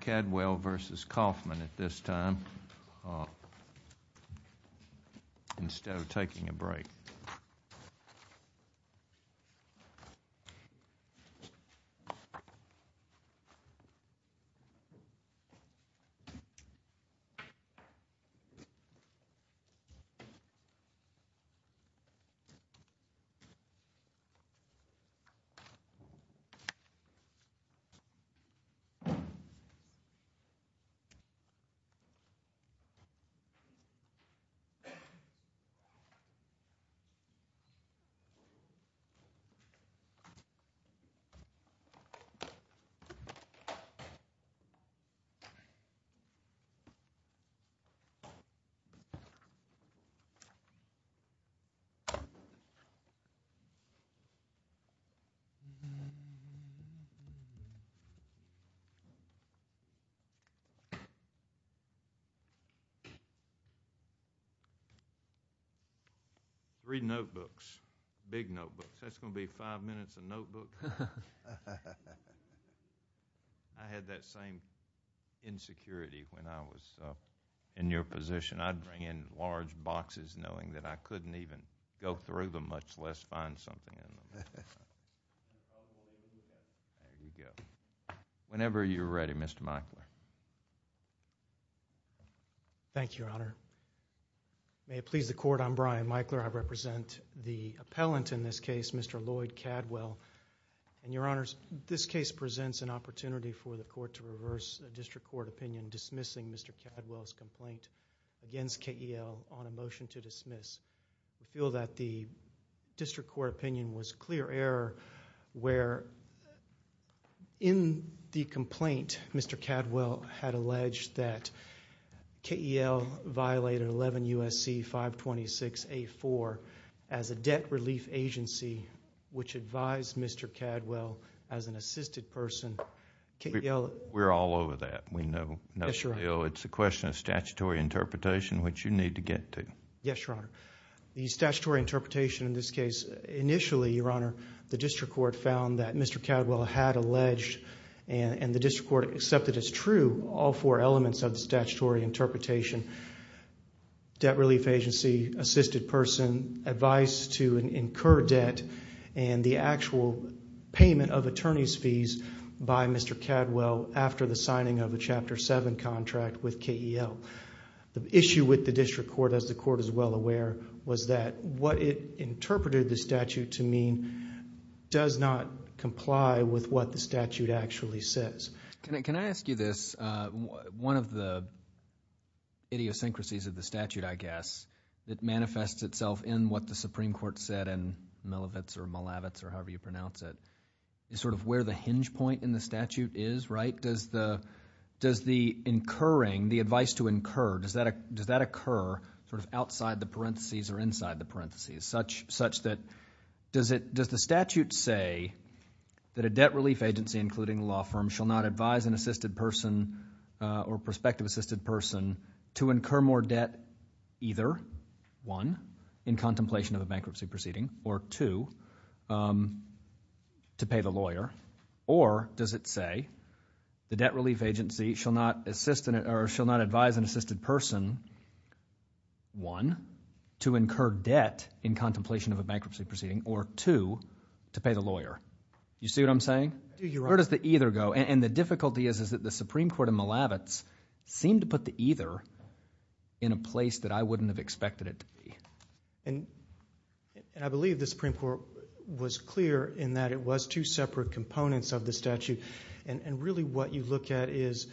Cadwell versus Kaufman at this time. Instead of taking a break. Three notebooks, big notebook, that's gonna be five minutes a notebook. I had that same insecurity when I was in your position. I'd bring in large boxes knowing that I couldn't even go through them, much less find something. Whenever you're ready, Mr. Meichler. Thank you, Your Honor. May it please the Court, I'm Brian Meichler. I represent the appellant in this case, Mr. Lloyd Cadwell. Your Honor, this case presents an opportunity for the Court to reverse a district court opinion dismissing Mr. Cadwell's complaint against KEL on a motion to dismiss. I feel that the district court opinion was clear error where in the complaint, Mr. Cadwell had alleged that KEL violated 11 U.S.C. 526A4 as a debt relief agency, which advised Mr. Cadwell as an assisted person. KEL... We're all over that. We know. Yes, Your Honor. It's a question of statutory interpretation which you need to get to. Yes, Your Honor. The statutory interpretation in this case, initially, Your Honor, the district court found that Mr. Cadwell had alleged and the district court accepted as true all four elements of the statutory interpretation, debt relief agency, assisted person, advice to incur debt, and the actual payment of attorney's fees by Mr. Cadwell after the signing of a Chapter 7 contract with KEL. The issue with the district court, as the court is well aware, was that what it interpreted the statute to mean does not comply with what the statute actually says. Can I ask you this? One of the idiosyncrasies of the statute, I guess, that manifests itself in what the Supreme Court said in Milavitz or Malavitz or however you pronounce it, is sort of where the hinge point in the statute is, right? Does the incurring, the advice to incur, does that occur sort of outside the parentheses or inside the parentheses such that does the statute say that a debt relief agency, including a law firm, shall not advise an assisted person or prospective assisted person to incur more debt either, one, in contemplation of a bankruptcy proceeding, or two, to pay the lawyer, or does it say the debt relief agency shall not advise an assisted person, one, to incur debt in contemplation of a bankruptcy proceeding, or two, to pay the lawyer? You see what I'm saying? Where does the either go? And the difficulty is that the Supreme Court in Milavitz seemed to put the either in a place that I wouldn't have expected it to be. And I believe the Supreme Court was clear in that it was two separate components of the statute. And really what you look at is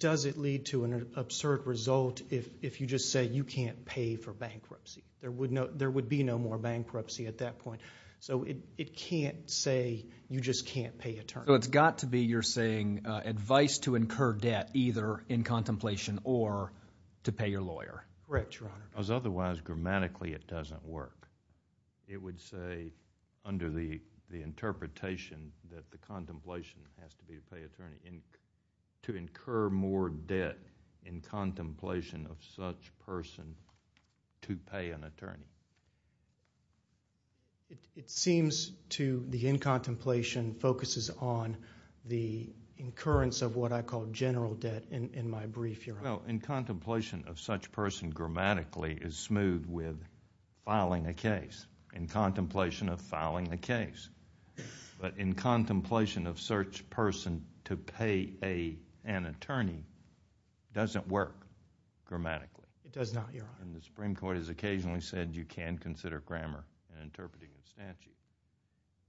does it lead to an absurd result if you just say you can't pay for bankruptcy? There would be no more bankruptcy at that point. So it can't say you just can't pay a term. So it's got to be, you're saying, advice to incur debt either in contemplation or to pay your lawyer. Correct, Your Honor. Because otherwise grammatically it doesn't work. It would say under the interpretation that the contemplation has to be to pay attorney to incur more debt in contemplation of such person to pay an attorney. It seems to the in contemplation focuses on the incurrence Well, in contemplation of such person grammatically is smooth with filing a case. In contemplation of filing a case. But in contemplation of such person to pay an attorney doesn't work grammatically. It does not, Your Honor. And the Supreme Court has occasionally said you can consider grammar in interpreting the statute.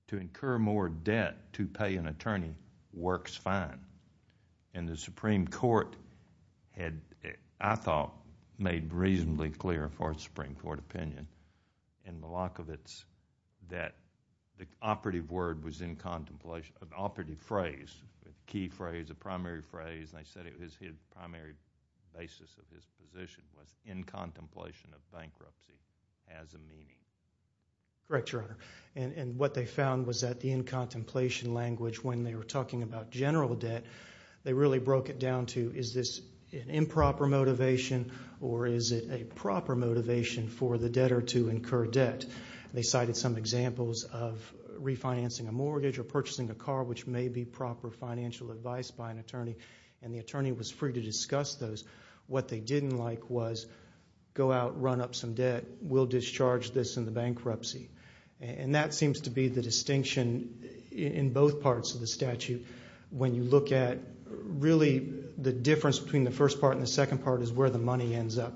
To incur more debt to pay an attorney works fine. And the Supreme Court had, I thought, made reasonably clear for its Supreme Court opinion in Milakovic's that the operative word was in contemplation. Operative phrase, the key phrase, the primary phrase. They said it was his primary basis of his position was in contemplation of bankruptcy as a meaning. Correct, Your Honor. And what they found was that the in contemplation language when they were talking about general debt, they really broke it down to is this an improper motivation or is it a proper motivation for the debtor to incur debt. They cited some examples of refinancing a mortgage or purchasing a car which may be proper financial advice by an attorney. And the attorney was free to discuss those. What they didn't like was go out, run up some debt, we'll discharge this in the bankruptcy. And that seems to be the distinction in both parts of the statute when you look at really the difference between the first part and the second part is where the money ends up.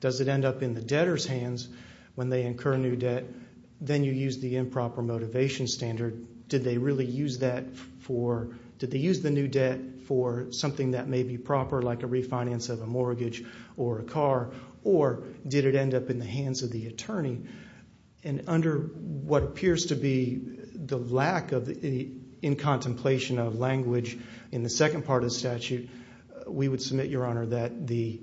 Does it end up in the debtor's hands when they incur new debt? Then you use the improper motivation standard. Did they use the new debt for something that may be proper like a refinance of a mortgage or a car or did it end up in the hands of the attorney? Under what appears to be the lack of in contemplation of language in the second part of the statute, we would submit, Your Honor, that the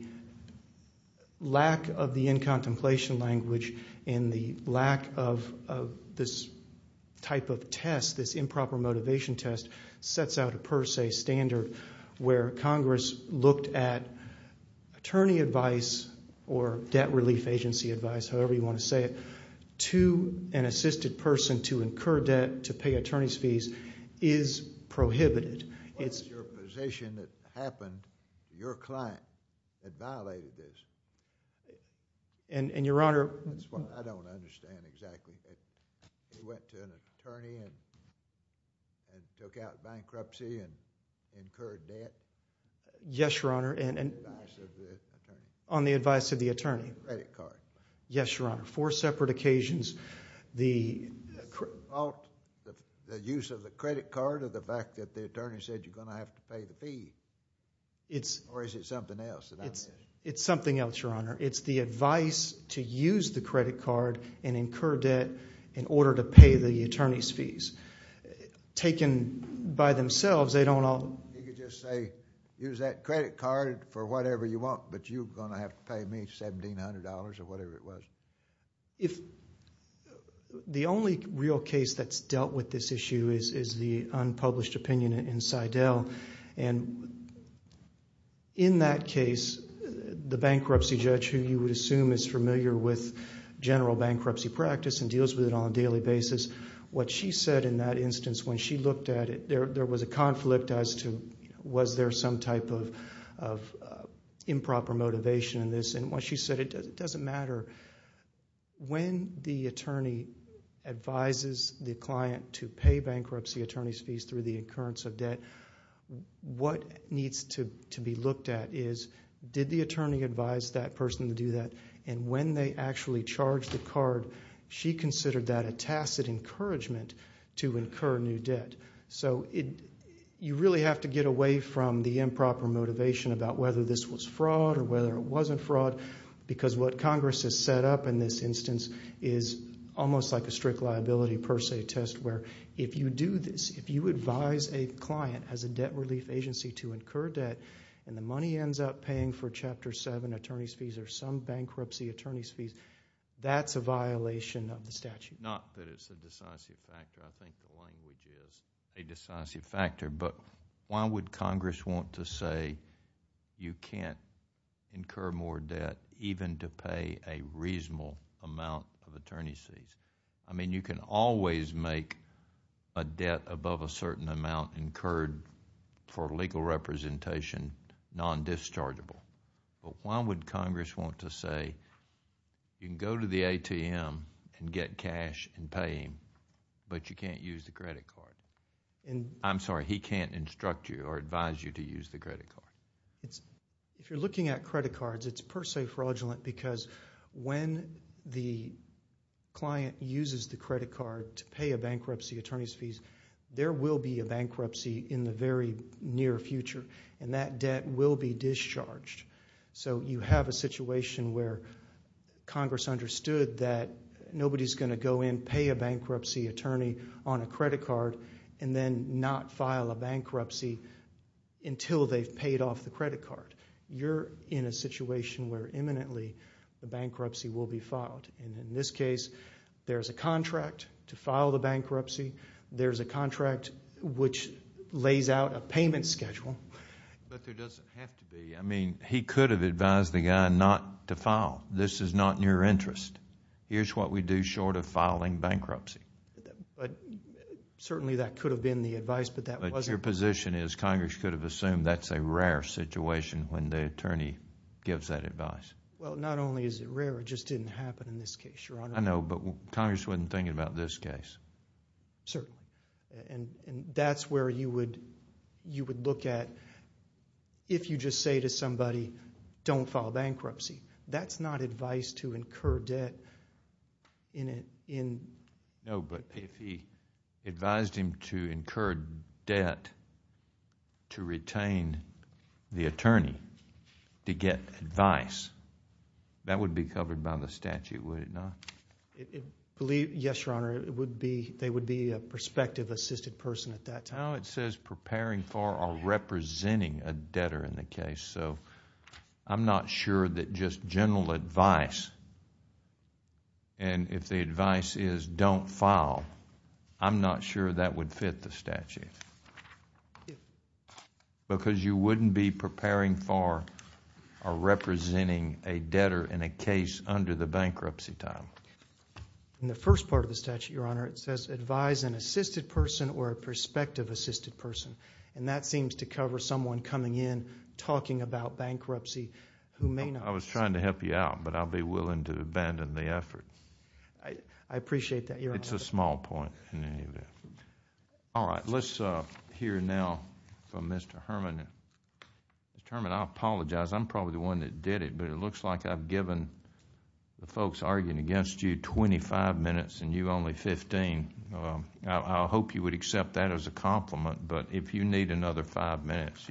lack of the in contemplation language and the lack of this type of test, this improper motivation test, sets out a per se standard where Congress looked at attorney advice or debt relief agency advice, however you want to say it, to an assisted person to incur debt to pay attorney's fees is prohibited. What was your position that happened to your client that violated this? And, Your Honor. That's what I don't understand exactly. They went to an attorney and took out bankruptcy and incurred debt? Yes, Your Honor. On the advice of the attorney. Credit card. Yes, Your Honor. Four separate occasions. The use of the credit card or the fact that the attorney said you're going to have to pay the fees? Or is it something else? It's something else, Your Honor. It's the advice to use the credit card and incur debt in order to pay the attorney's fees. Taken by themselves, they don't all. You could just say use that credit card for whatever you want, but you're going to have to pay me $1,700 or whatever it was. The only real case that's dealt with this issue is the unpublished opinion in Seidel. And in that case, the bankruptcy judge, who you would assume is familiar with general bankruptcy practice and deals with it on a daily basis, what she said in that instance when she looked at it, there was a conflict as to was there some type of improper motivation in this. And what she said, it doesn't matter. When the attorney advises the client to pay bankruptcy attorney's fees through the occurrence of debt, what needs to be looked at is did the attorney advise that person to do that? And when they actually charged the card, she considered that a tacit encouragement to incur new debt. So you really have to get away from the improper motivation about whether this was fraud or whether it wasn't fraud because what Congress has set up in this instance is almost like a strict liability per se test where if you do this, if you advise a client as a debt relief agency to incur debt and the money ends up paying for Chapter 7 attorney's fees or some bankruptcy attorney's fees, that's a violation of the statute. Not that it's a decisive factor. I think the language is a decisive factor. But why would Congress want to say you can't incur more debt even to pay a reasonable amount of attorney's fees? I mean, you can always make a debt above a certain amount incurred for legal representation non-dischargeable. But why would Congress want to say you can go to the ATM and get cash and pay him, but you can't use the credit card? I'm sorry, he can't instruct you or advise you to use the credit card? If you're looking at credit cards, it's per se fraudulent because when the client uses the credit card to pay a bankruptcy attorney's fees, there will be a bankruptcy in the very near future and that debt will be discharged. So you have a situation where Congress understood that nobody's going to go in, pay a bankruptcy attorney on a credit card, and then not file a bankruptcy until they've paid off the credit card. You're in a situation where imminently the bankruptcy will be filed. In this case, there's a contract to file the bankruptcy. There's a contract which lays out a payment schedule. But there doesn't have to be. I mean, he could have advised the guy not to file. This is not in your interest. Here's what we do short of filing bankruptcy. But certainly that could have been the advice, but that wasn't. But your position is Congress could have assumed that's a rare situation when the attorney gives that advice. Well, not only is it rare, it just didn't happen in this case, Your Honor. I know, but Congress wasn't thinking about this case. Sir, and that's where you would look at if you just say to somebody, don't file bankruptcy. That's not advice to incur debt in... No, but if he advised him to incur debt to retain the attorney to get advice, that would be covered by the statute, would it not? Yes, Your Honor. They would be a prospective assisted person at that time. No, it says preparing for or representing a debtor in the case. I'm not sure that just general advice, and if the advice is don't file, I'm not sure that would fit the statute. Thank you. Because you wouldn't be preparing for or representing a debtor in a case under the bankruptcy time. In the first part of the statute, Your Honor, it says advise an assisted person or a prospective assisted person, and that seems to cover someone coming in talking about bankruptcy who may not... I was trying to help you out, but I'll be willing to abandon the effort. I appreciate that, Your Honor. It's a small point in any event. All right. Let's hear now from Mr. Herman. Mr. Herman, I apologize. I'm probably the one that did it, but it looks like I've given the folks arguing against you 25 minutes and you only 15. I hope you would accept that as a compliment, but if you need another five minutes,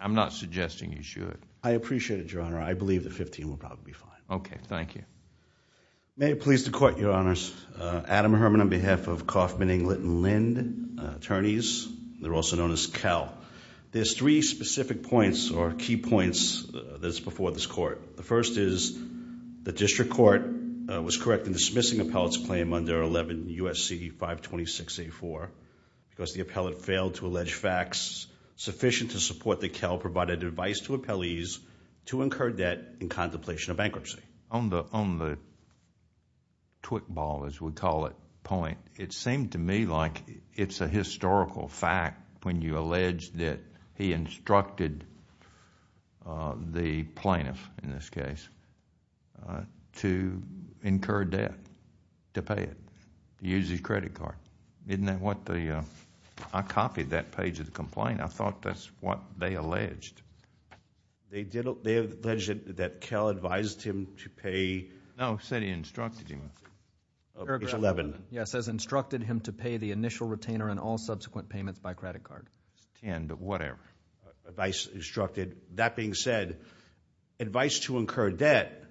I'm not suggesting you should. I appreciate it, Your Honor. I believe that 15 will probably be fine. Okay. Thank you. May it please the Court, Your Honors. Adam Herman on behalf of Kauffman, Englert, and Lind, attorneys. They're also known as CAL. There's three specific points or key points that's before this Court. The first is the district court was correct in dismissing appellate's claim under 11 U.S.C. 526-84 because the appellate failed to allege facts sufficient to support that CAL provided advice to appellees to incur debt in contemplation of bankruptcy. On the twig ball, as we call it, point, it seemed to me like it's a historical fact when you allege that he instructed the plaintiff, in this case, to incur debt, to pay it, to use his credit card. Isn't that what the... I copied that page of the complaint. I thought that's what they alleged. They alleged that CAL advised him to pay... No, said he instructed him. Page 11. Yes, says instructed him to pay the initial retainer and all subsequent payments by credit card. Whatever. Advice instructed. That being said, advice to incur debt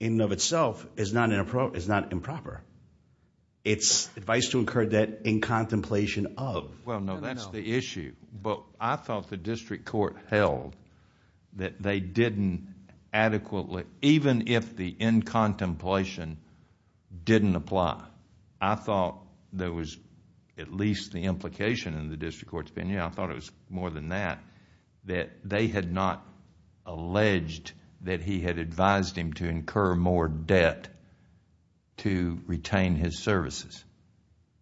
in and of itself is not improper. It's advice to incur debt in contemplation of. Well, no, that's the issue. But I thought the district court held that they didn't adequately, even if the in contemplation didn't apply, I thought there was at least the implication in the district court's opinion, I thought it was more than that, that they had not alleged that he had advised him to incur more debt to retain his services.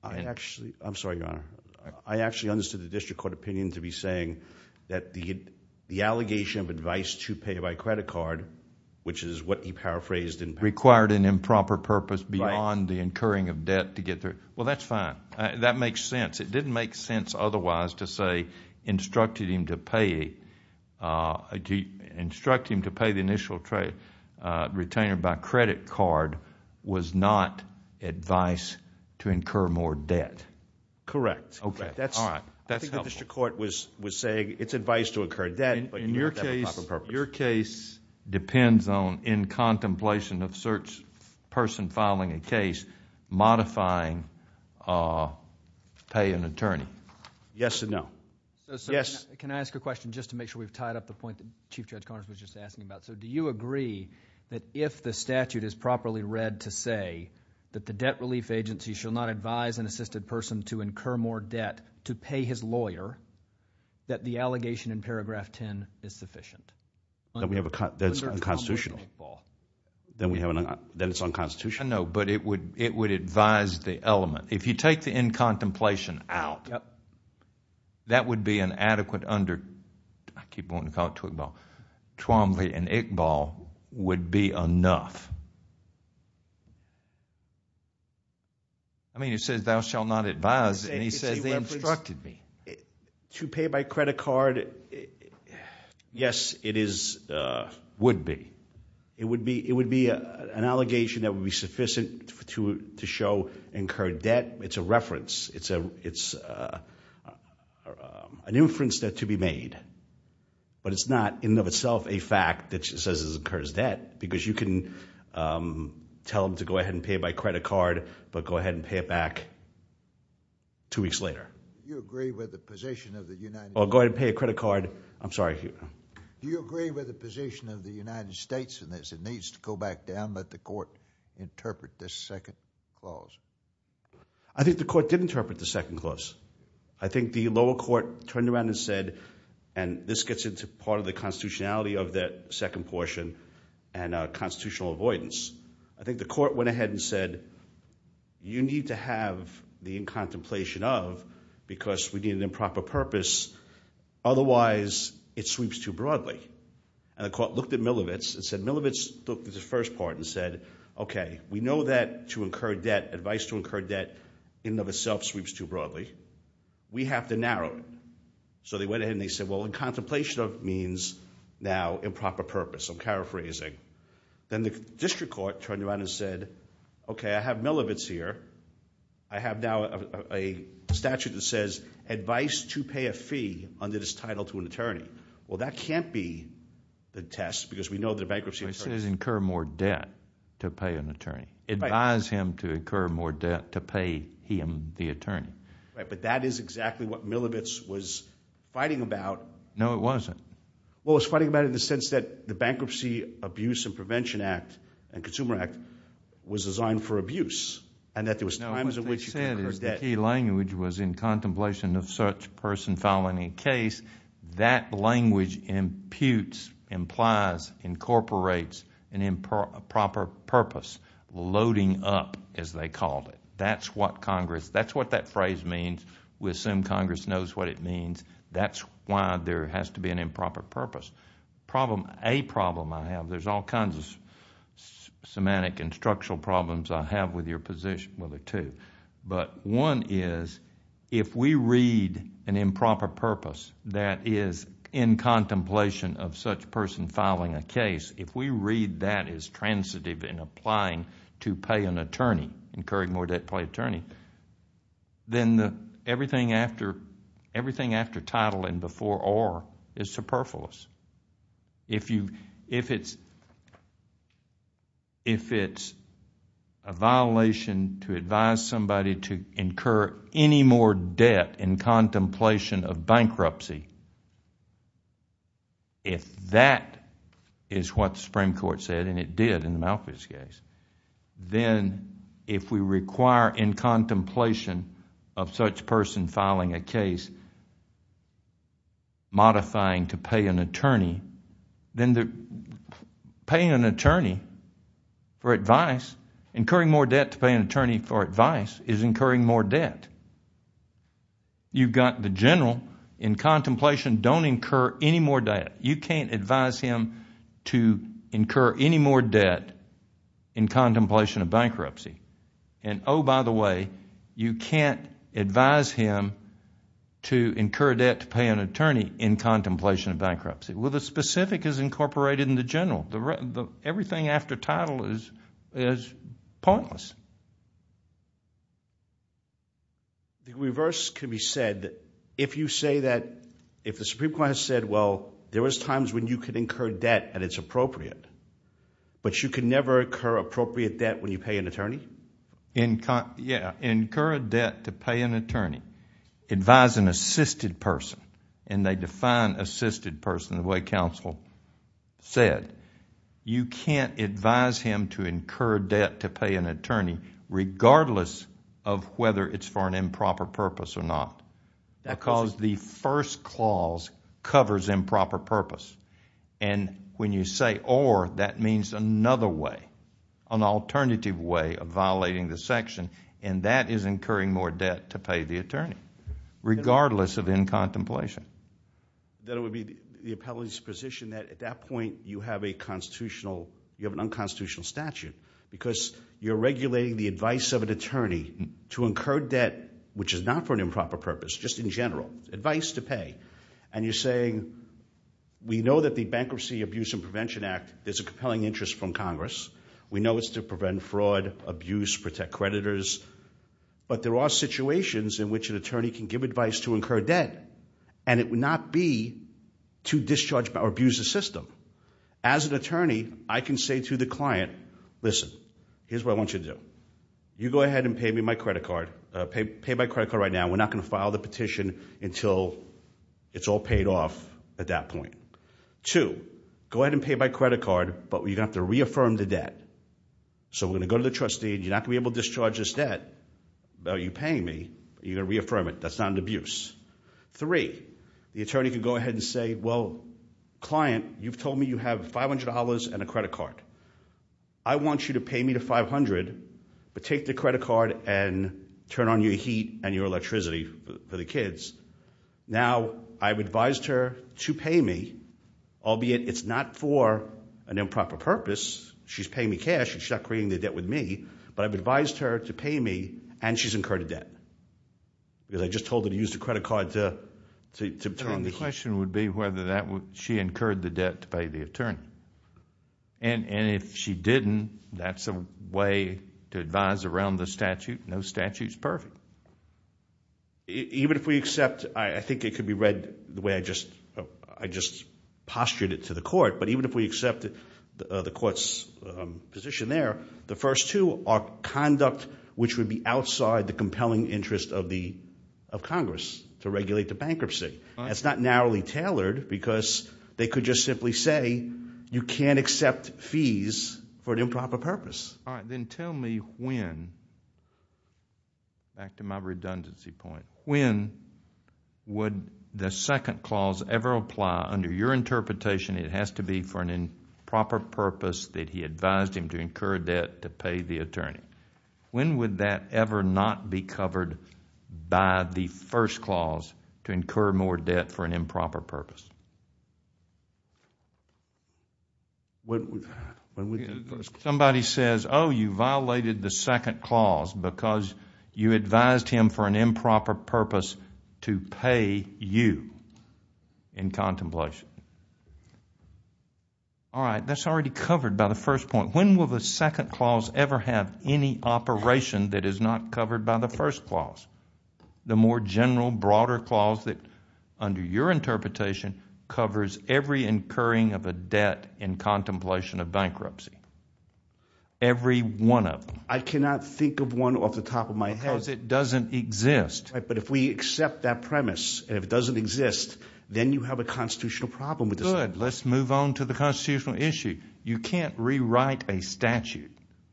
I actually understood the district court opinion to be saying that the allegation of advice to pay by credit card, which is what he paraphrased in... Required an improper purpose beyond the incurring of debt to get there. Well, that's fine. That makes sense. It didn't make sense otherwise to say instructed him to pay the initial retainer by credit card was not advice to incur more debt. Correct. Okay, all right. That's helpful. I think the district court was saying it's advice to incur debt, but you don't have a proper purpose. Your case depends on in contemplation of search person filing a case modifying pay an attorney. Yes and no. Yes. Can I ask a question just to make sure we've tied up the point that Chief Judge Connors was just asking about? Do you agree that if the statute is properly read to say that the debt relief agency shall not advise an assisted person to incur more debt to pay his lawyer, that the allegation in paragraph 10 is sufficient? That's unconstitutional. Then it's unconstitutional. I know, but it would advise the element. If you take the in contemplation out, that would be an adequate under... I keep wanting to call it Twombly and Iqbal. Twombly and Iqbal would be enough. I mean it says thou shall not advise, and he says they instructed me. To pay by credit card, yes, it is... Would be. It would be an allegation that would be sufficient to show incurred debt. It's a reference. It's an inference that to be made, but it's not in and of itself a fact that says it incurs debt because you can tell them to go ahead and pay by credit card, but go ahead and pay it back two weeks later. Do you agree with the position of the United States... Go ahead and pay a credit card. I'm sorry. Do you agree with the position of the United States in this? It needs to go back down. Let the court interpret this second clause. I think the court did interpret the second clause. I think the lower court turned around and said, and this gets into part of the constitutionality of that second portion and constitutional avoidance. I think the court went ahead and said, you need to have the in-contemplation of because we need an improper purpose. Otherwise, it sweeps too broadly. And the court looked at Milovic's and said, Milovic's took the first part and said, okay, we know that to incur debt, advice to incur debt in and of itself sweeps too broadly. We have to narrow it. So they went ahead and they said, well, in-contemplation of means now improper purpose. I'm paraphrasing. Then the district court turned around and said, okay, I have Milovic's here. I have now a statute that says advice to pay a fee under this title to an attorney. Well, that can't be the test because we know the bankruptcy... To pay an attorney. Right. Advise him to incur more debt to pay him the attorney. Right, but that is exactly what Milovic's was fighting about. No, it wasn't. Well, it was fighting about it in the sense that the Bankruptcy Abuse and Prevention Act and Consumer Act was designed for abuse and that there was times in which... No, what they said is the key language was in-contemplation of such person following a case. That language imputes, implies, incorporates an improper purpose. Loading up, as they called it. That's what Congress... That's what that phrase means. We assume Congress knows what it means. That's why there has to be an improper purpose. A problem I have... There's all kinds of semantic and structural problems I have with your position... Well, there are two. One is if we read an improper purpose that is in-contemplation of such person filing a case, if we read that as transitive in applying to pay an attorney, incurring more debt to pay attorney, then everything after title and before or is superfluous. If you... If it's a violation to advise somebody to incur any more debt in contemplation of bankruptcy, if that is what the Supreme Court said and it did in Malcolm's case, then if we require in-contemplation of such person filing a case, modifying to pay an attorney, then paying an attorney for advice, incurring more debt to pay an attorney for advice is incurring more debt. You've got the general in contemplation, don't incur any more debt. You can't advise him to incur any more debt in contemplation of bankruptcy. Oh, by the way, you can't advise him to incur debt to pay an attorney in contemplation of bankruptcy. Well, the specific is incorporated in the general. Everything after title is pointless. The reverse can be said. If you say that... If the Supreme Court has said, well, there was times when you could incur debt and it's appropriate, but you can never incur appropriate debt when you... Yeah, incur a debt to pay an attorney, advise an assisted person, and they define assisted person the way counsel said. You can't advise him to incur debt to pay an attorney regardless of whether it's for an improper purpose or not because the first clause covers improper purpose. When you say or, that means another way, an alternative way of violating the section, and that is incurring more debt to pay the attorney regardless of in contemplation. Then it would be the appellate's position that at that point you have a constitutional... You have an unconstitutional statute because you're regulating the advice of an attorney to incur debt, which is not for an improper purpose, just in general, advice to pay. You're saying, we know that the Bankruptcy Abuse and Prevention Act is a compelling interest from Congress. We know it's to prevent fraud, abuse, protect creditors, but there are situations in which an attorney can give advice to incur debt, and it would not be to discharge or abuse the system. As an attorney, I can say to the client, listen, here's what I want you to do. You go ahead and pay me my credit card. Pay my credit card right now. We're not going to file the petition until it's all paid off at that point. Two, go ahead and pay my credit card, but you're going to have to reaffirm the debt. So we're going to go to the trustee, and you're not going to be able to discharge this debt. You're paying me, but you're going to reaffirm it. That's not an abuse. Three, the attorney can go ahead and say, well, client, you've told me you have $500 and a credit card. I want you to pay me the $500, but take the credit card and turn on your heat and your electricity for the kids. Now, I've advised her to pay me, albeit it's not for an improper purpose. She's paying me cash. She's not creating the debt with me, but I've advised her to pay me, and she's incurred a debt because I just told her to use the credit card to turn on the heat. The question would be whether she incurred the debt to pay the attorney, and if she didn't, that's a way to advise around the statute. No statute is perfect. Even if we accept, I think it could be read the way I just postured it to the court, but even if we accept the court's position there, the first two are conduct which would be outside the compelling interest of Congress to regulate the bankruptcy. It's not narrowly tailored because they could just simply say, you can't accept fees for an improper purpose. All right. Then tell me when, back to my redundancy point, when would the second clause ever apply? Under your interpretation, it has to be for an improper purpose that he advised him to incur a debt to pay the attorney. When would that ever not be covered by the first clause, to incur more debt for an improper purpose? Somebody says, oh, you violated the second clause because you advised him for an improper purpose to pay you in contemplation. All right. That's already covered by the first point. When will the second clause ever have any operation that is not covered by the first clause? The more general, broader clause that, under your interpretation, covers every incurring of a debt in contemplation of bankruptcy. Every one of them. I cannot think of one off the top of my head. Because it doesn't exist. But if we accept that premise, and if it doesn't exist, then you have a constitutional problem with this. Good. Let's move on to the constitutional issue. You can't rewrite a statute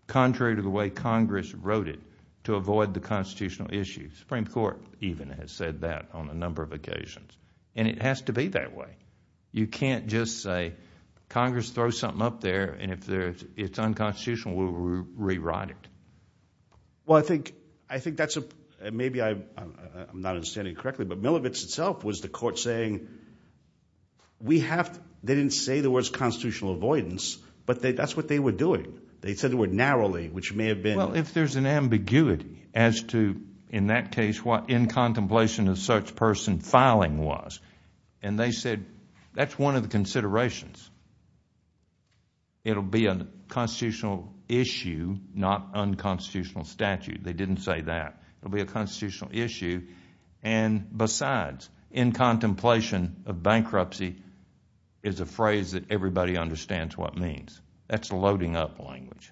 contrary to the way Congress wrote it to avoid the constitutional issue. The Supreme Court even has said that on a number of occasions. And it has to be that way. You can't just say, Congress throws something up there, and if it's unconstitutional, we'll rewrite it. Well, I think that's a – maybe I'm not understanding it correctly, but Milovic's itself was the court saying we have – they didn't say there was constitutional avoidance, but that's what they were doing. They said the word narrowly, which may have been – Well, if there's an ambiguity as to, in that case, what in contemplation of such person filing was. And they said that's one of the considerations. It'll be a constitutional issue, not unconstitutional statute. They didn't say that. It'll be a constitutional issue. And besides, in contemplation of bankruptcy is a phrase that everybody understands what it means. That's loading up language.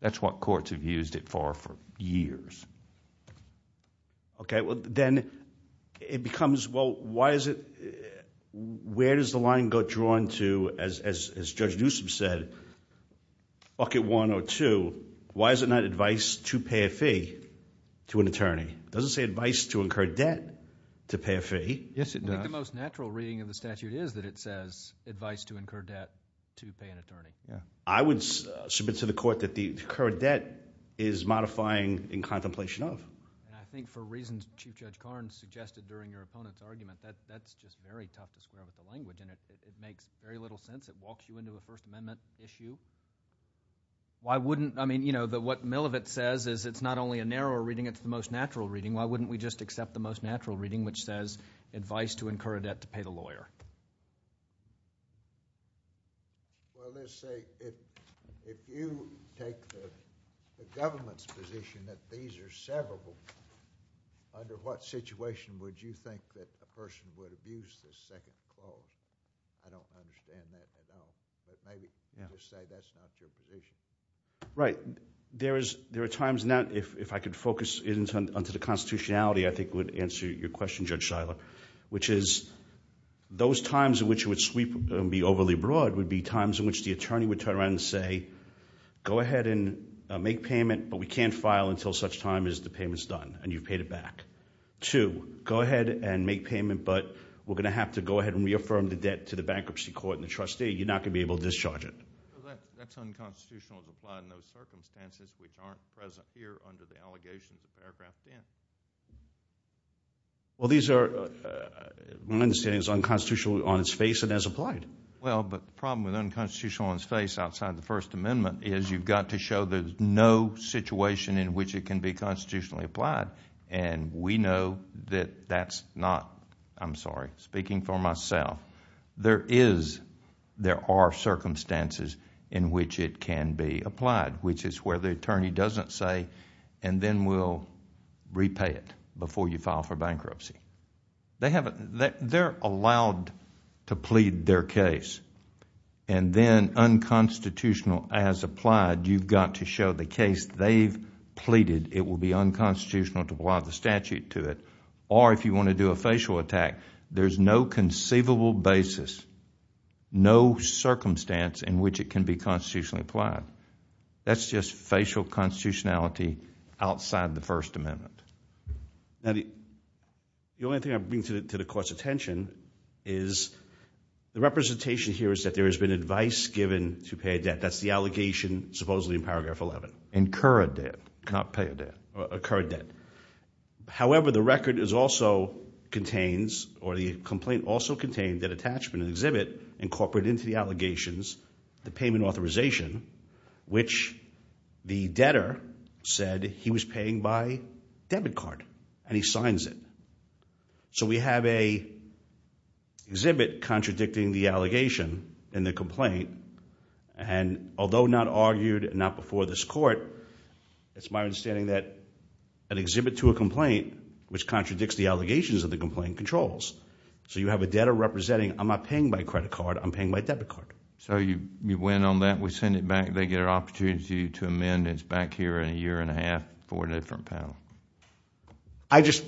That's what courts have used it for for years. Okay. Well, then it becomes, well, why is it – where does the line go drawn to, as Judge Newsom said, bucket one or two, why is it not advice to pay a fee to an attorney? It doesn't say advice to incur debt to pay a fee. Yes, it does. I think the most natural reading of the statute is that it says advice to incur debt to pay an attorney. I would submit to the court that the incurred debt is modifying in contemplation of. And I think for reasons Chief Judge Karnes suggested during your opponent's argument, that's just very tough to scrub at the language, and it makes very little sense. It walks you into a First Amendment issue. Why wouldn't – I mean, you know, what Millivet says is it's not only a narrower reading, it's the most natural reading. Why wouldn't we just accept the most natural reading, which says advice to incur a debt to pay the lawyer? Well, let's say if you take the government's position that these are severable, under what situation would you think that a person would abuse this second clause? I don't understand that at all. But maybe you could say that's not your position. Right. There are times now, if I could focus into the constitutionality, I think it would answer your question, Judge Seiler, which is those times in which it would sweep and be overly broad would be times in which the attorney would turn around and say, go ahead and make payment, but we can't file until such time as the payment's done and you've paid it back. Two, go ahead and make payment, but we're going to have to go ahead and reaffirm the debt to the bankruptcy court and the trustee. You're not going to be able to discharge it. That's unconstitutional to apply in those circumstances, which aren't present here under the allegations in paragraph 10. Well, these are, my understanding is unconstitutional on its face and as applied. Well, but the problem with unconstitutional on its face outside of the First Amendment is you've got to show there's no situation in which it can be constitutionally applied. We know that that's not, I'm sorry, speaking for myself, there are circumstances in which it can be applied, which is where the attorney doesn't say, and then we'll repay it before you file for bankruptcy. They're allowed to plead their case and then unconstitutional as applied, you've got to show the case they've pleaded it will be unconstitutional to apply the statute to it, or if you want to do a facial attack, there's no conceivable basis, no circumstance in which it can be constitutionally applied. That's just facial constitutionality outside the First Amendment. Now, the only thing I'm bringing to the Court's attention is the representation here is that there has been advice given to pay a debt. That's the allegation supposedly in paragraph 11. Incur a debt, not pay a debt. Incur a debt. However, the record also contains, or the complaint also contains, that attachment and exhibit incorporate into the allegations the payment authorization, which the debtor said he was paying by debit card, and he signs it. So we have a exhibit contradicting the allegation in the complaint, and although not argued, not before this Court, it's my understanding that an exhibit to a complaint, which contradicts the allegations of the complaint, controls. So you have a debtor representing, I'm not paying by credit card, I'm paying by debit card. So you win on that. We send it back. They get an opportunity to amend. It's back here in a year and a half for a different panel. I just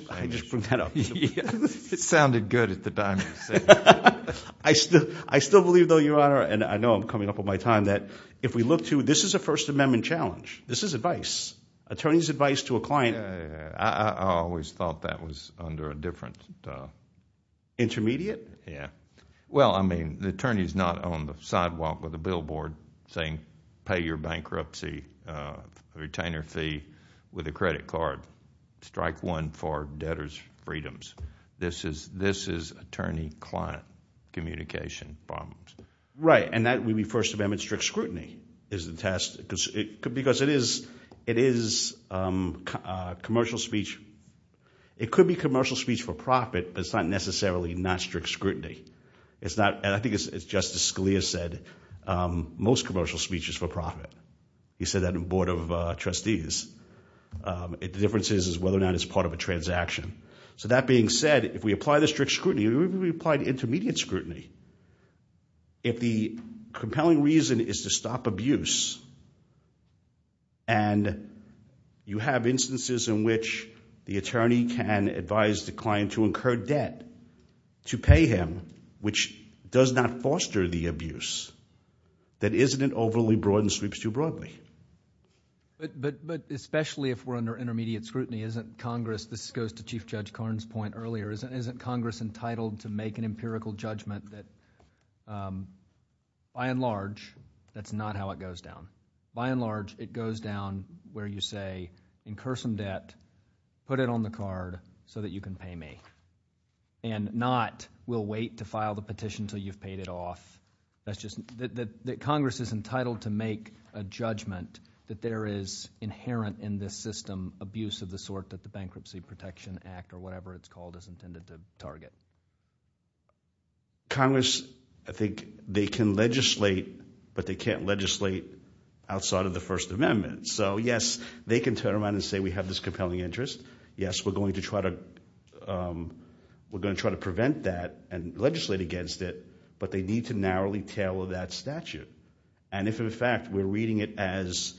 bring that up. It sounded good at the time you said it. I still believe, though, Your Honor, and I know I'm coming up on my time, that if we look to, this is a First Amendment challenge. This is advice, attorney's advice to a client. I always thought that was under a different... Intermediate? Yeah. Well, I mean, the attorney's not on the sidewalk with a billboard saying, pay your bankruptcy retainer fee with a credit card, strike one for debtor's freedoms. This is attorney-client communication problems. Right, and that would be First Amendment strict scrutiny is the test, because it is commercial speech. It could be commercial speech for profit, but it's not necessarily not strict scrutiny. I think it's just as Scalia said, most commercial speech is for profit. He said that in Board of Trustees. The difference is whether or not it's part of a transaction. So that being said, if we apply the strict scrutiny, we apply the intermediate scrutiny. If the compelling reason is to stop abuse and you have instances in which the attorney can advise the client to incur debt to pay him, which does not foster the abuse, then isn't it overly broad and sweeps too broadly? But especially if we're under intermediate scrutiny, isn't Congress, this goes to Chief Judge Karn's point earlier, isn't Congress entitled to make an empirical judgment that, by and large, that's not how it goes down. By and large, it goes down where you say, incur some debt, put it on the card so that you can pay me, and not we'll wait to file the petition until you've paid it off. Congress is entitled to make a judgment that there is inherent in this system abuse of the sort that the Bankruptcy Protection Act or whatever it's called is intended to target. Congress, I think they can legislate, but they can't legislate outside of the First Amendment. So, yes, they can turn around and say we have this compelling interest. Yes, we're going to try to prevent that and legislate against it, but they need to narrowly tailor that statute. And if, in fact, we're reading it as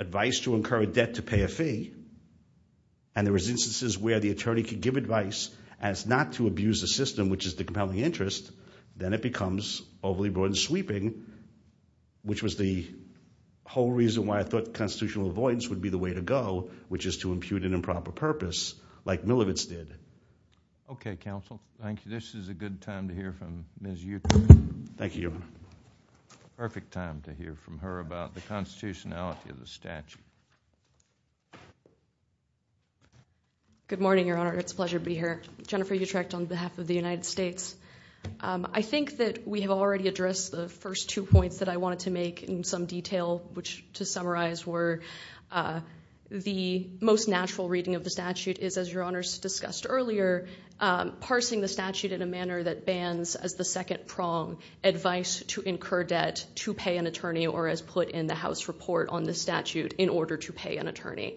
advice to incur a debt to pay a fee and there is instances where the attorney can give advice as not to abuse the system, which is the compelling interest, then it becomes overly broad and sweeping, which was the whole reason why I thought constitutional avoidance would be the way to go, which is to impute an improper purpose, like Millivitz did. Okay, counsel. Thank you. This is a good time to hear from Ms. Euclid. Thank you. Perfect time to hear from her about the constitutionality of the statute. Good morning, Your Honor. It's a pleasure to be here. Jennifer Utrecht on behalf of the United States. I think that we have already addressed the first two points that I wanted to make in some detail, which, to summarize, were the most natural reading of the statute is, as Your Honors discussed earlier, parsing the statute in a manner that bans as the second prong advice to incur debt to pay an attorney or as put in the House report on the statute, in order to pay an attorney.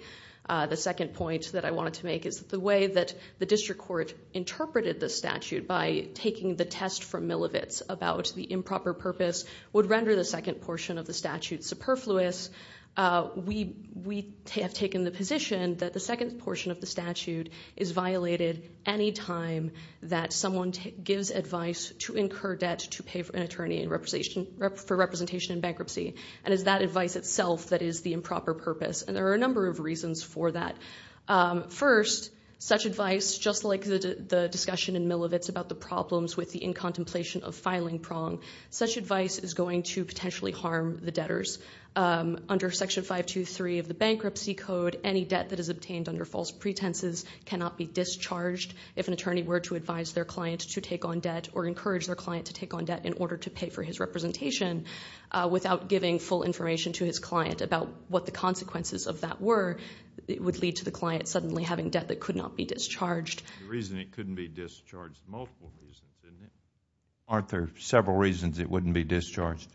The second point that I wanted to make is the way that the district court interpreted the statute by taking the test from Millivitz about the improper purpose would render the second portion of the statute superfluous. We have taken the position that the second portion of the statute is violated any time that someone gives advice to incur debt to pay an attorney for representation in bankruptcy, and it's that advice itself that is the improper purpose, and there are a number of reasons for that. First, such advice, just like the discussion in Millivitz about the problems with the incontemplation of filing prong, such advice is going to potentially harm the debtors. Under Section 523 of the Bankruptcy Code, any debt that is obtained under false pretenses cannot be discharged if an attorney were to advise their client to take on debt or encourage their client to take on debt in order to pay for his representation without giving full information to his client about what the consequences of that were. It would lead to the client suddenly having debt that could not be discharged. The reason it couldn't be discharged, multiple reasons, isn't it? Aren't there several reasons it wouldn't be discharged?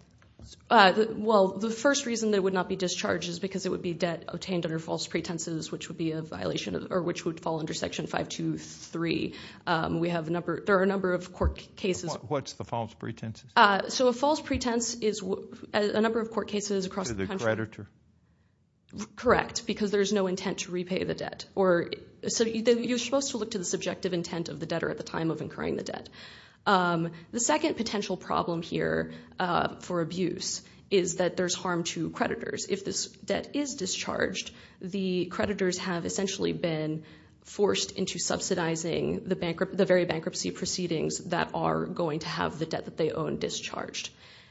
Well, the first reason it would not be discharged is because it would be debt obtained under false pretenses, which would fall under Section 523. There are a number of court cases... What's the false pretenses? So a false pretense is a number of court cases across the country... To the creditor? Correct, because there's no intent to repay the debt. So you're supposed to look to the subjective intent of the debtor at the time of incurring the debt. The second potential problem here for abuse is that there's harm to creditors. If this debt is discharged, the creditors have essentially been forced into subsidizing the very bankruptcy proceedings that are going to have the debt that they own discharged.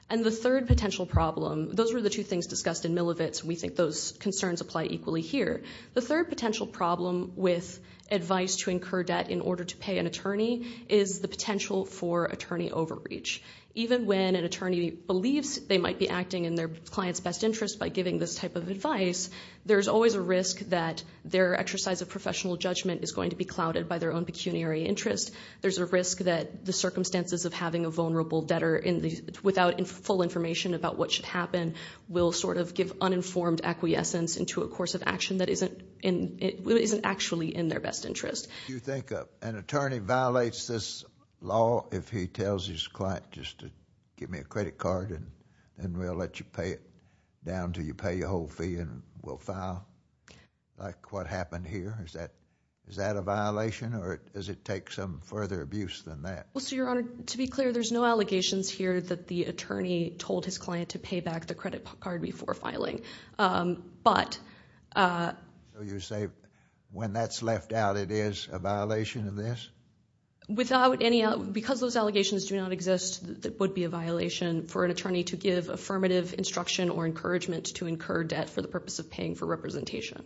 And the third potential problem... Those were the two things discussed in Milovic's, and we think those concerns apply equally here. The third potential problem with advice to incur debt in order to pay an attorney is the potential for attorney overreach. Even when an attorney believes they might be acting in their client's best interest by giving this type of advice, there's always a risk that their exercise of professional judgment is going to be clouded by their own pecuniary interest. There's a risk that the circumstances of having a vulnerable debtor without full information about what should happen will sort of give uninformed acquiescence into a course of action that isn't actually in their best interest. Do you think an attorney violates this law if he tells his client, just give me a credit card, and we'll let you pay it down until you pay your whole fee and we'll file? Like what happened here? Is that a violation, or does it take some further abuse than that? Well, so, Your Honor, to be clear, there's no allegations here that the attorney told his client to pay back the credit card before filing. But... So you say when that's left out, it is a violation of this? Without any... Because those allegations do not exist, it would be a violation for an attorney to give affirmative instruction or encouragement to incur debt for the purpose of paying for representation.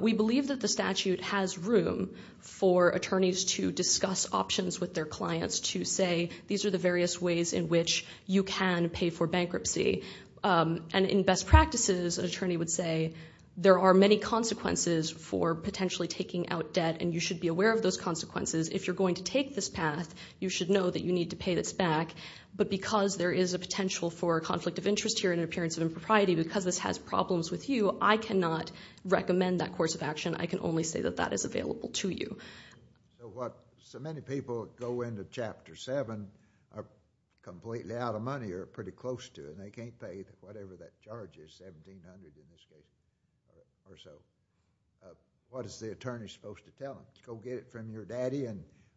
We believe that the statute has room for attorneys to discuss options with their clients to say these are the various ways in which you can pay for bankruptcy. And in best practices, an attorney would say there are many consequences for potentially taking out debt, and you should be aware of those consequences if you're going to take this path. You should know that you need to pay this back. But because there is a potential for a conflict of interest here and an appearance of impropriety, because this has problems with you, I cannot recommend that course of action. I can only say that that is available to you. So many people go into Chapter 7 completely out of money or pretty close to it, and they can't pay whatever that charge is, $1,700 in this case or so. What is the attorney supposed to tell them? Go get it from your daddy,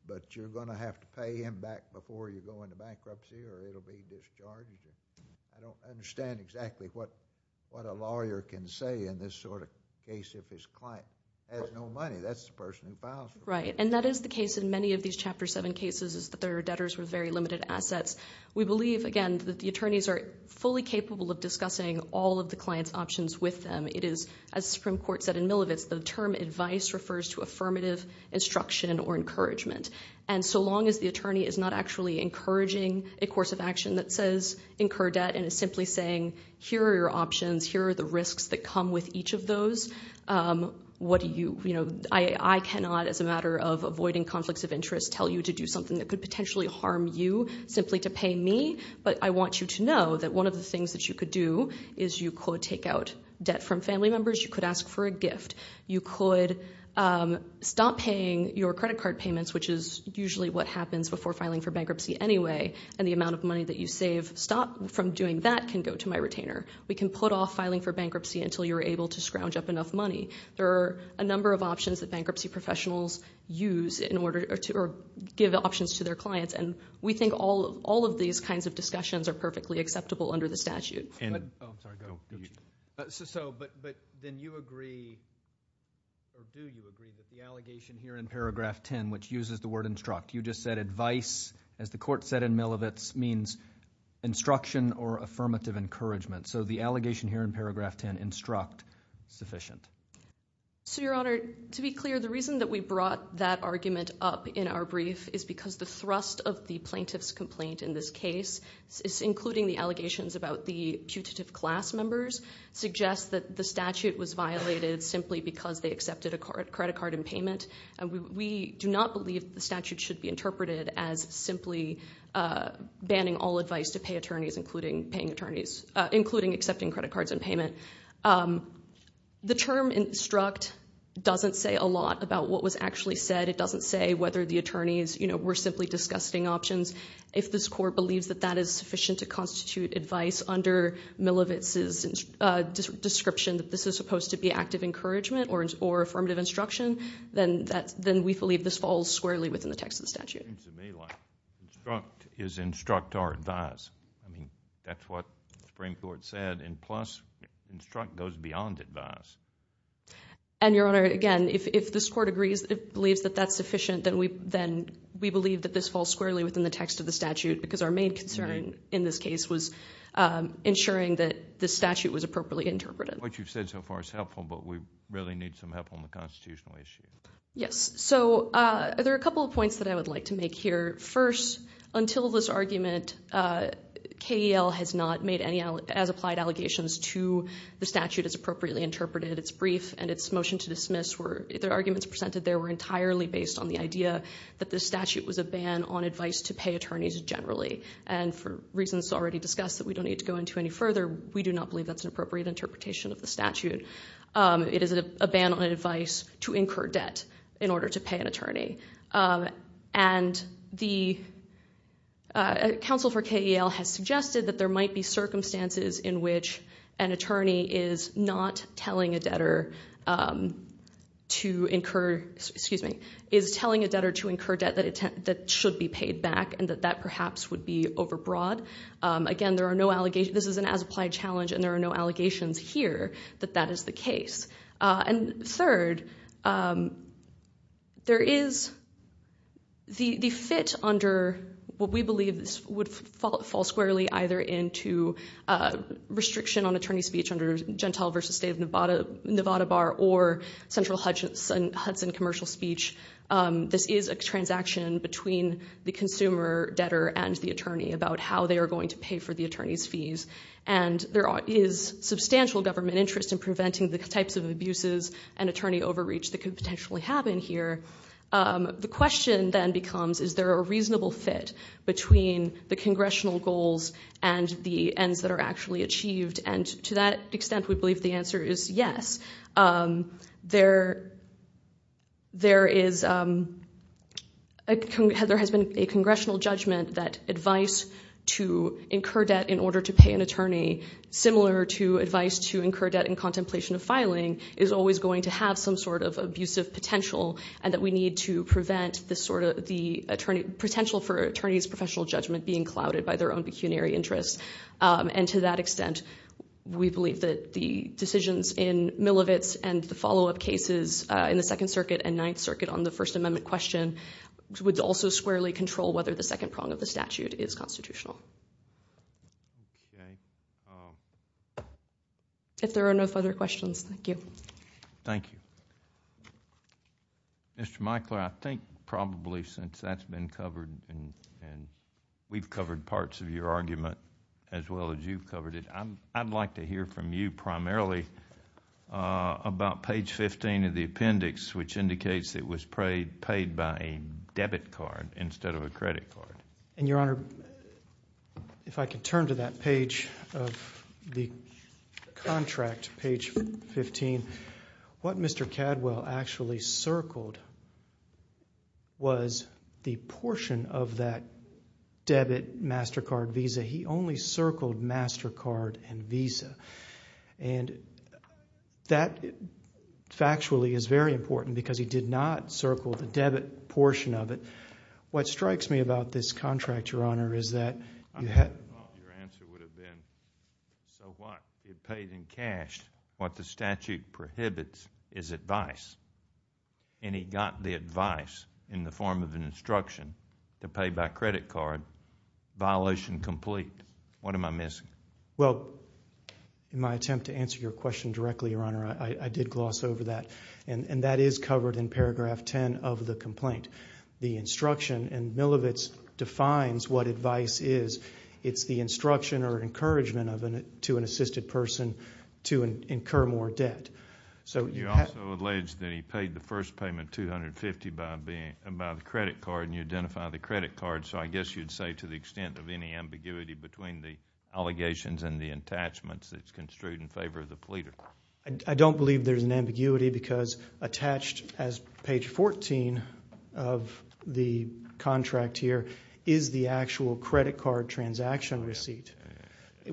but you're going to have to pay him back before you go into bankruptcy, or it'll be discharged. I don't understand exactly what a lawyer can say in this sort of case if his client has no money. That's the person who files it. Right, and that is the case in many of these Chapter 7 cases is that there are debtors with very limited assets. We believe, again, that the attorneys are fully capable of discussing all of the client's options with them. It is, as the Supreme Court said in Milovic's, the term advice refers to affirmative instruction or encouragement. And so long as the attorney is not actually encouraging a course of action that says, incur debt and is simply saying, here are your options, here are the risks that come with each of those, what do you, you know, I cannot, as a matter of avoiding conflicts of interest, tell you to do something that could potentially harm you simply to pay me, but I want you to know that one of the things that you could do is you could take out debt from family members, you could ask for a gift, you could stop paying your credit card payments, which is usually what happens before filing for bankruptcy anyway, and the amount of money that you save, stop from doing that can go to my retainer. We can put off filing for bankruptcy until you're able to scrounge up enough money. There are a number of options that bankruptcy professionals use in order to give options to their clients, and we think all of these kinds of discussions are perfectly acceptable under the statute. So, but then you agree, or do you agree, with the allegation here in paragraph 10, which uses the word instruct. You just said advice, as the court said in Milovic's, means instruction or affirmative encouragement. So the allegation here in paragraph 10, instruct, sufficient. So, Your Honor, to be clear, the reason that we brought that argument up in our brief is because the thrust of the plaintiff's complaint in this case, including the allegations about the putative class members, suggests that the statute was violated simply because they accepted a credit card in payment. We do not believe the statute should be interpreted as simply banning all advice to pay attorneys, including accepting credit cards in payment. The term instruct doesn't say a lot about what was actually said. It doesn't say whether the attorneys were simply discussing options. If this court believes that that is sufficient to constitute advice under Milovic's description that this is supposed to be active encouragement or affirmative instruction, then we believe this falls squarely within the text of the statute. It seems to me like instruct is instruct or advise. I mean, that's what the Supreme Court said, and plus instruct goes beyond advise. And, Your Honor, again, if this court agrees, believes that that's sufficient, then we believe that this falls squarely within the text of the statute because our main concern in this case was ensuring that the statute was appropriately interpreted. What you've said so far is helpful, but we really need some help on the constitutional issue. Yes. So there are a couple of points that I would like to make here. First, until this argument, KEL has not made any as-applied allegations to the statute as appropriately interpreted. Its brief and its motion to dismiss, the arguments presented there were entirely based on the idea that the statute was a ban on advice to pay attorneys generally. And for reasons already discussed that we don't need to go into any further, we do not believe that's an appropriate interpretation of the statute. It is a ban on advice to incur debt in order to pay an attorney. And the counsel for KEL has suggested that there might be circumstances in which an attorney is not telling a debtor to incur, excuse me, is telling a debtor to incur debt that should be paid back and that that perhaps would be overbroad. Again, this is an as-applied challenge and there are no allegations here that that is the case. And third, there is the fit under what we believe would fall squarely either into restriction on attorney speech under Gentile v. State of Nevada, Nevada Bar, or central Hudson commercial speech. This is a transaction between the consumer, debtor, and the attorney about how they are going to pay for the attorney's fees. And there is substantial government interest in preventing the types of abuses and attorney overreach that could potentially happen here. The question then becomes, is there a reasonable fit between the congressional goals and the ends that are actually achieved? And to that extent, we believe the answer is yes. There has been a congressional judgment that advice to incur debt in order to pay an attorney, similar to advice to incur debt in contemplation of filing, is always going to have some sort of abusive potential and that we need to prevent the potential for an attorney's professional judgment being clouded by their own pecuniary interests. And to that extent, we believe that the decisions in Milovitz and the follow-up cases in the Second Circuit and Ninth Circuit on the First Amendment question would also squarely control whether the second prong of the statute is constitutional. If there are no further questions, thank you. Thank you. Mr. Micler, I think probably since that's been covered and we've covered parts of your argument as well as you've covered it, I'd like to hear from you primarily about page 15 of the appendix, which indicates it was paid by a debit card instead of a credit card. And, Your Honor, if I could turn to that page of the contract, page 15, what Mr. Cadwell actually circled was the portion of that debit, MasterCard, Visa. He only circled MasterCard and Visa. And that factually is very important because he did not circle the debit portion of it. What strikes me about this contract, Your Honor, is that you had... Your answer would have been, so what? It pays in cash. What the statute prohibits is advice. And he got the advice in the form of an instruction to pay by credit card, violation complete. What am I missing? Well, in my attempt to answer your question directly, Your Honor, I did gloss over that. And that is covered in paragraph 10 of the complaint. The instruction, and Milovic defines what advice is, it's the instruction or encouragement to an assisted person to incur more debt. You also allege that he paid the first payment, $250, by the credit card, and you identify the credit card. So I guess you'd say to the extent of any ambiguity between the allegations and the attachments that's construed in favor of the pleader. I don't believe there's an ambiguity because attached as page 14 of the contract here is the actual credit card transaction receipt,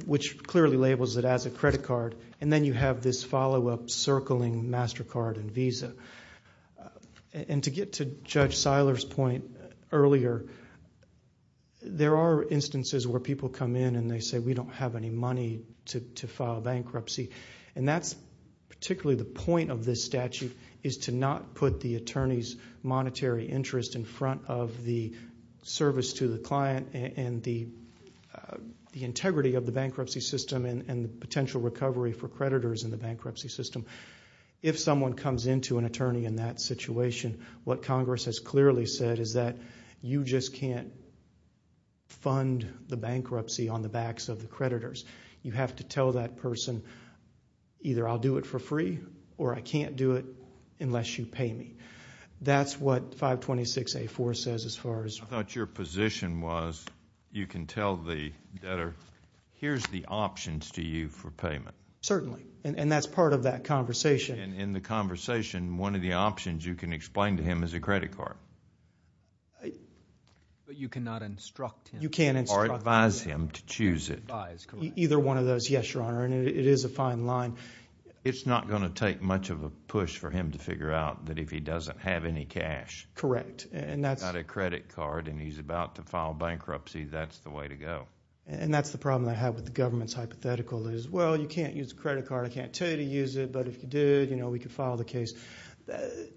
which clearly labels it as a credit card. And then you have this follow-up circling MasterCard and Visa. And to get to Judge Seiler's point earlier, there are instances where people come in and they say, we don't have any money to file bankruptcy. And that's particularly the point of this statute is to not put the attorney's monetary interest in front of the service to the client and the integrity of the bankruptcy system and the potential recovery for creditors in the bankruptcy system. If someone comes into an attorney in that situation, what Congress has clearly said is that you just can't fund the bankruptcy on the backs of the creditors. You have to tell that person, either I'll do it for free or I can't do it unless you pay me. That's what 526A4 says as far as... I thought your position was you can tell the debtor, here's the options to you for payment. Certainly, and that's part of that conversation. And in the conversation, one of the options you can explain to him is a credit card. But you cannot instruct him... You can't instruct him... Or advise him to choose it. Either one of those, yes, Your Honor, and it is a fine line. It's not going to take much of a push for him to figure out that if he doesn't have any cash... Correct, and that's... He's got a credit card and he's about to file bankruptcy, that's the way to go. And that's the problem I have with the government's hypothetical is, well, you can't use a credit card, I can't tell you to use it, but if you did, we could file the case.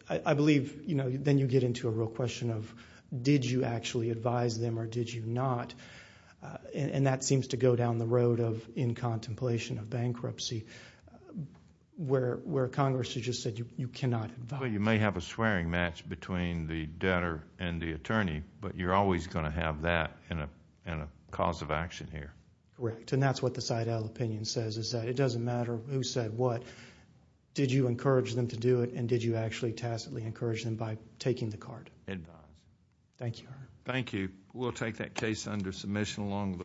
I believe then you get into a real question of did you actually advise them or did you not? And that seems to go down the road of in contemplation of bankruptcy where Congress has just said you cannot advise. Well, you may have a swearing match between the debtor and the attorney, but you're always going to have that in a cause of action here. Correct, and that's what the side L opinion says is that it doesn't matter who said what, did you encourage them to do it and did you actually tacitly encourage them by taking the card? Advise. Thank you, Your Honor. Thank you. We'll take that case under submission along the way. Thank you.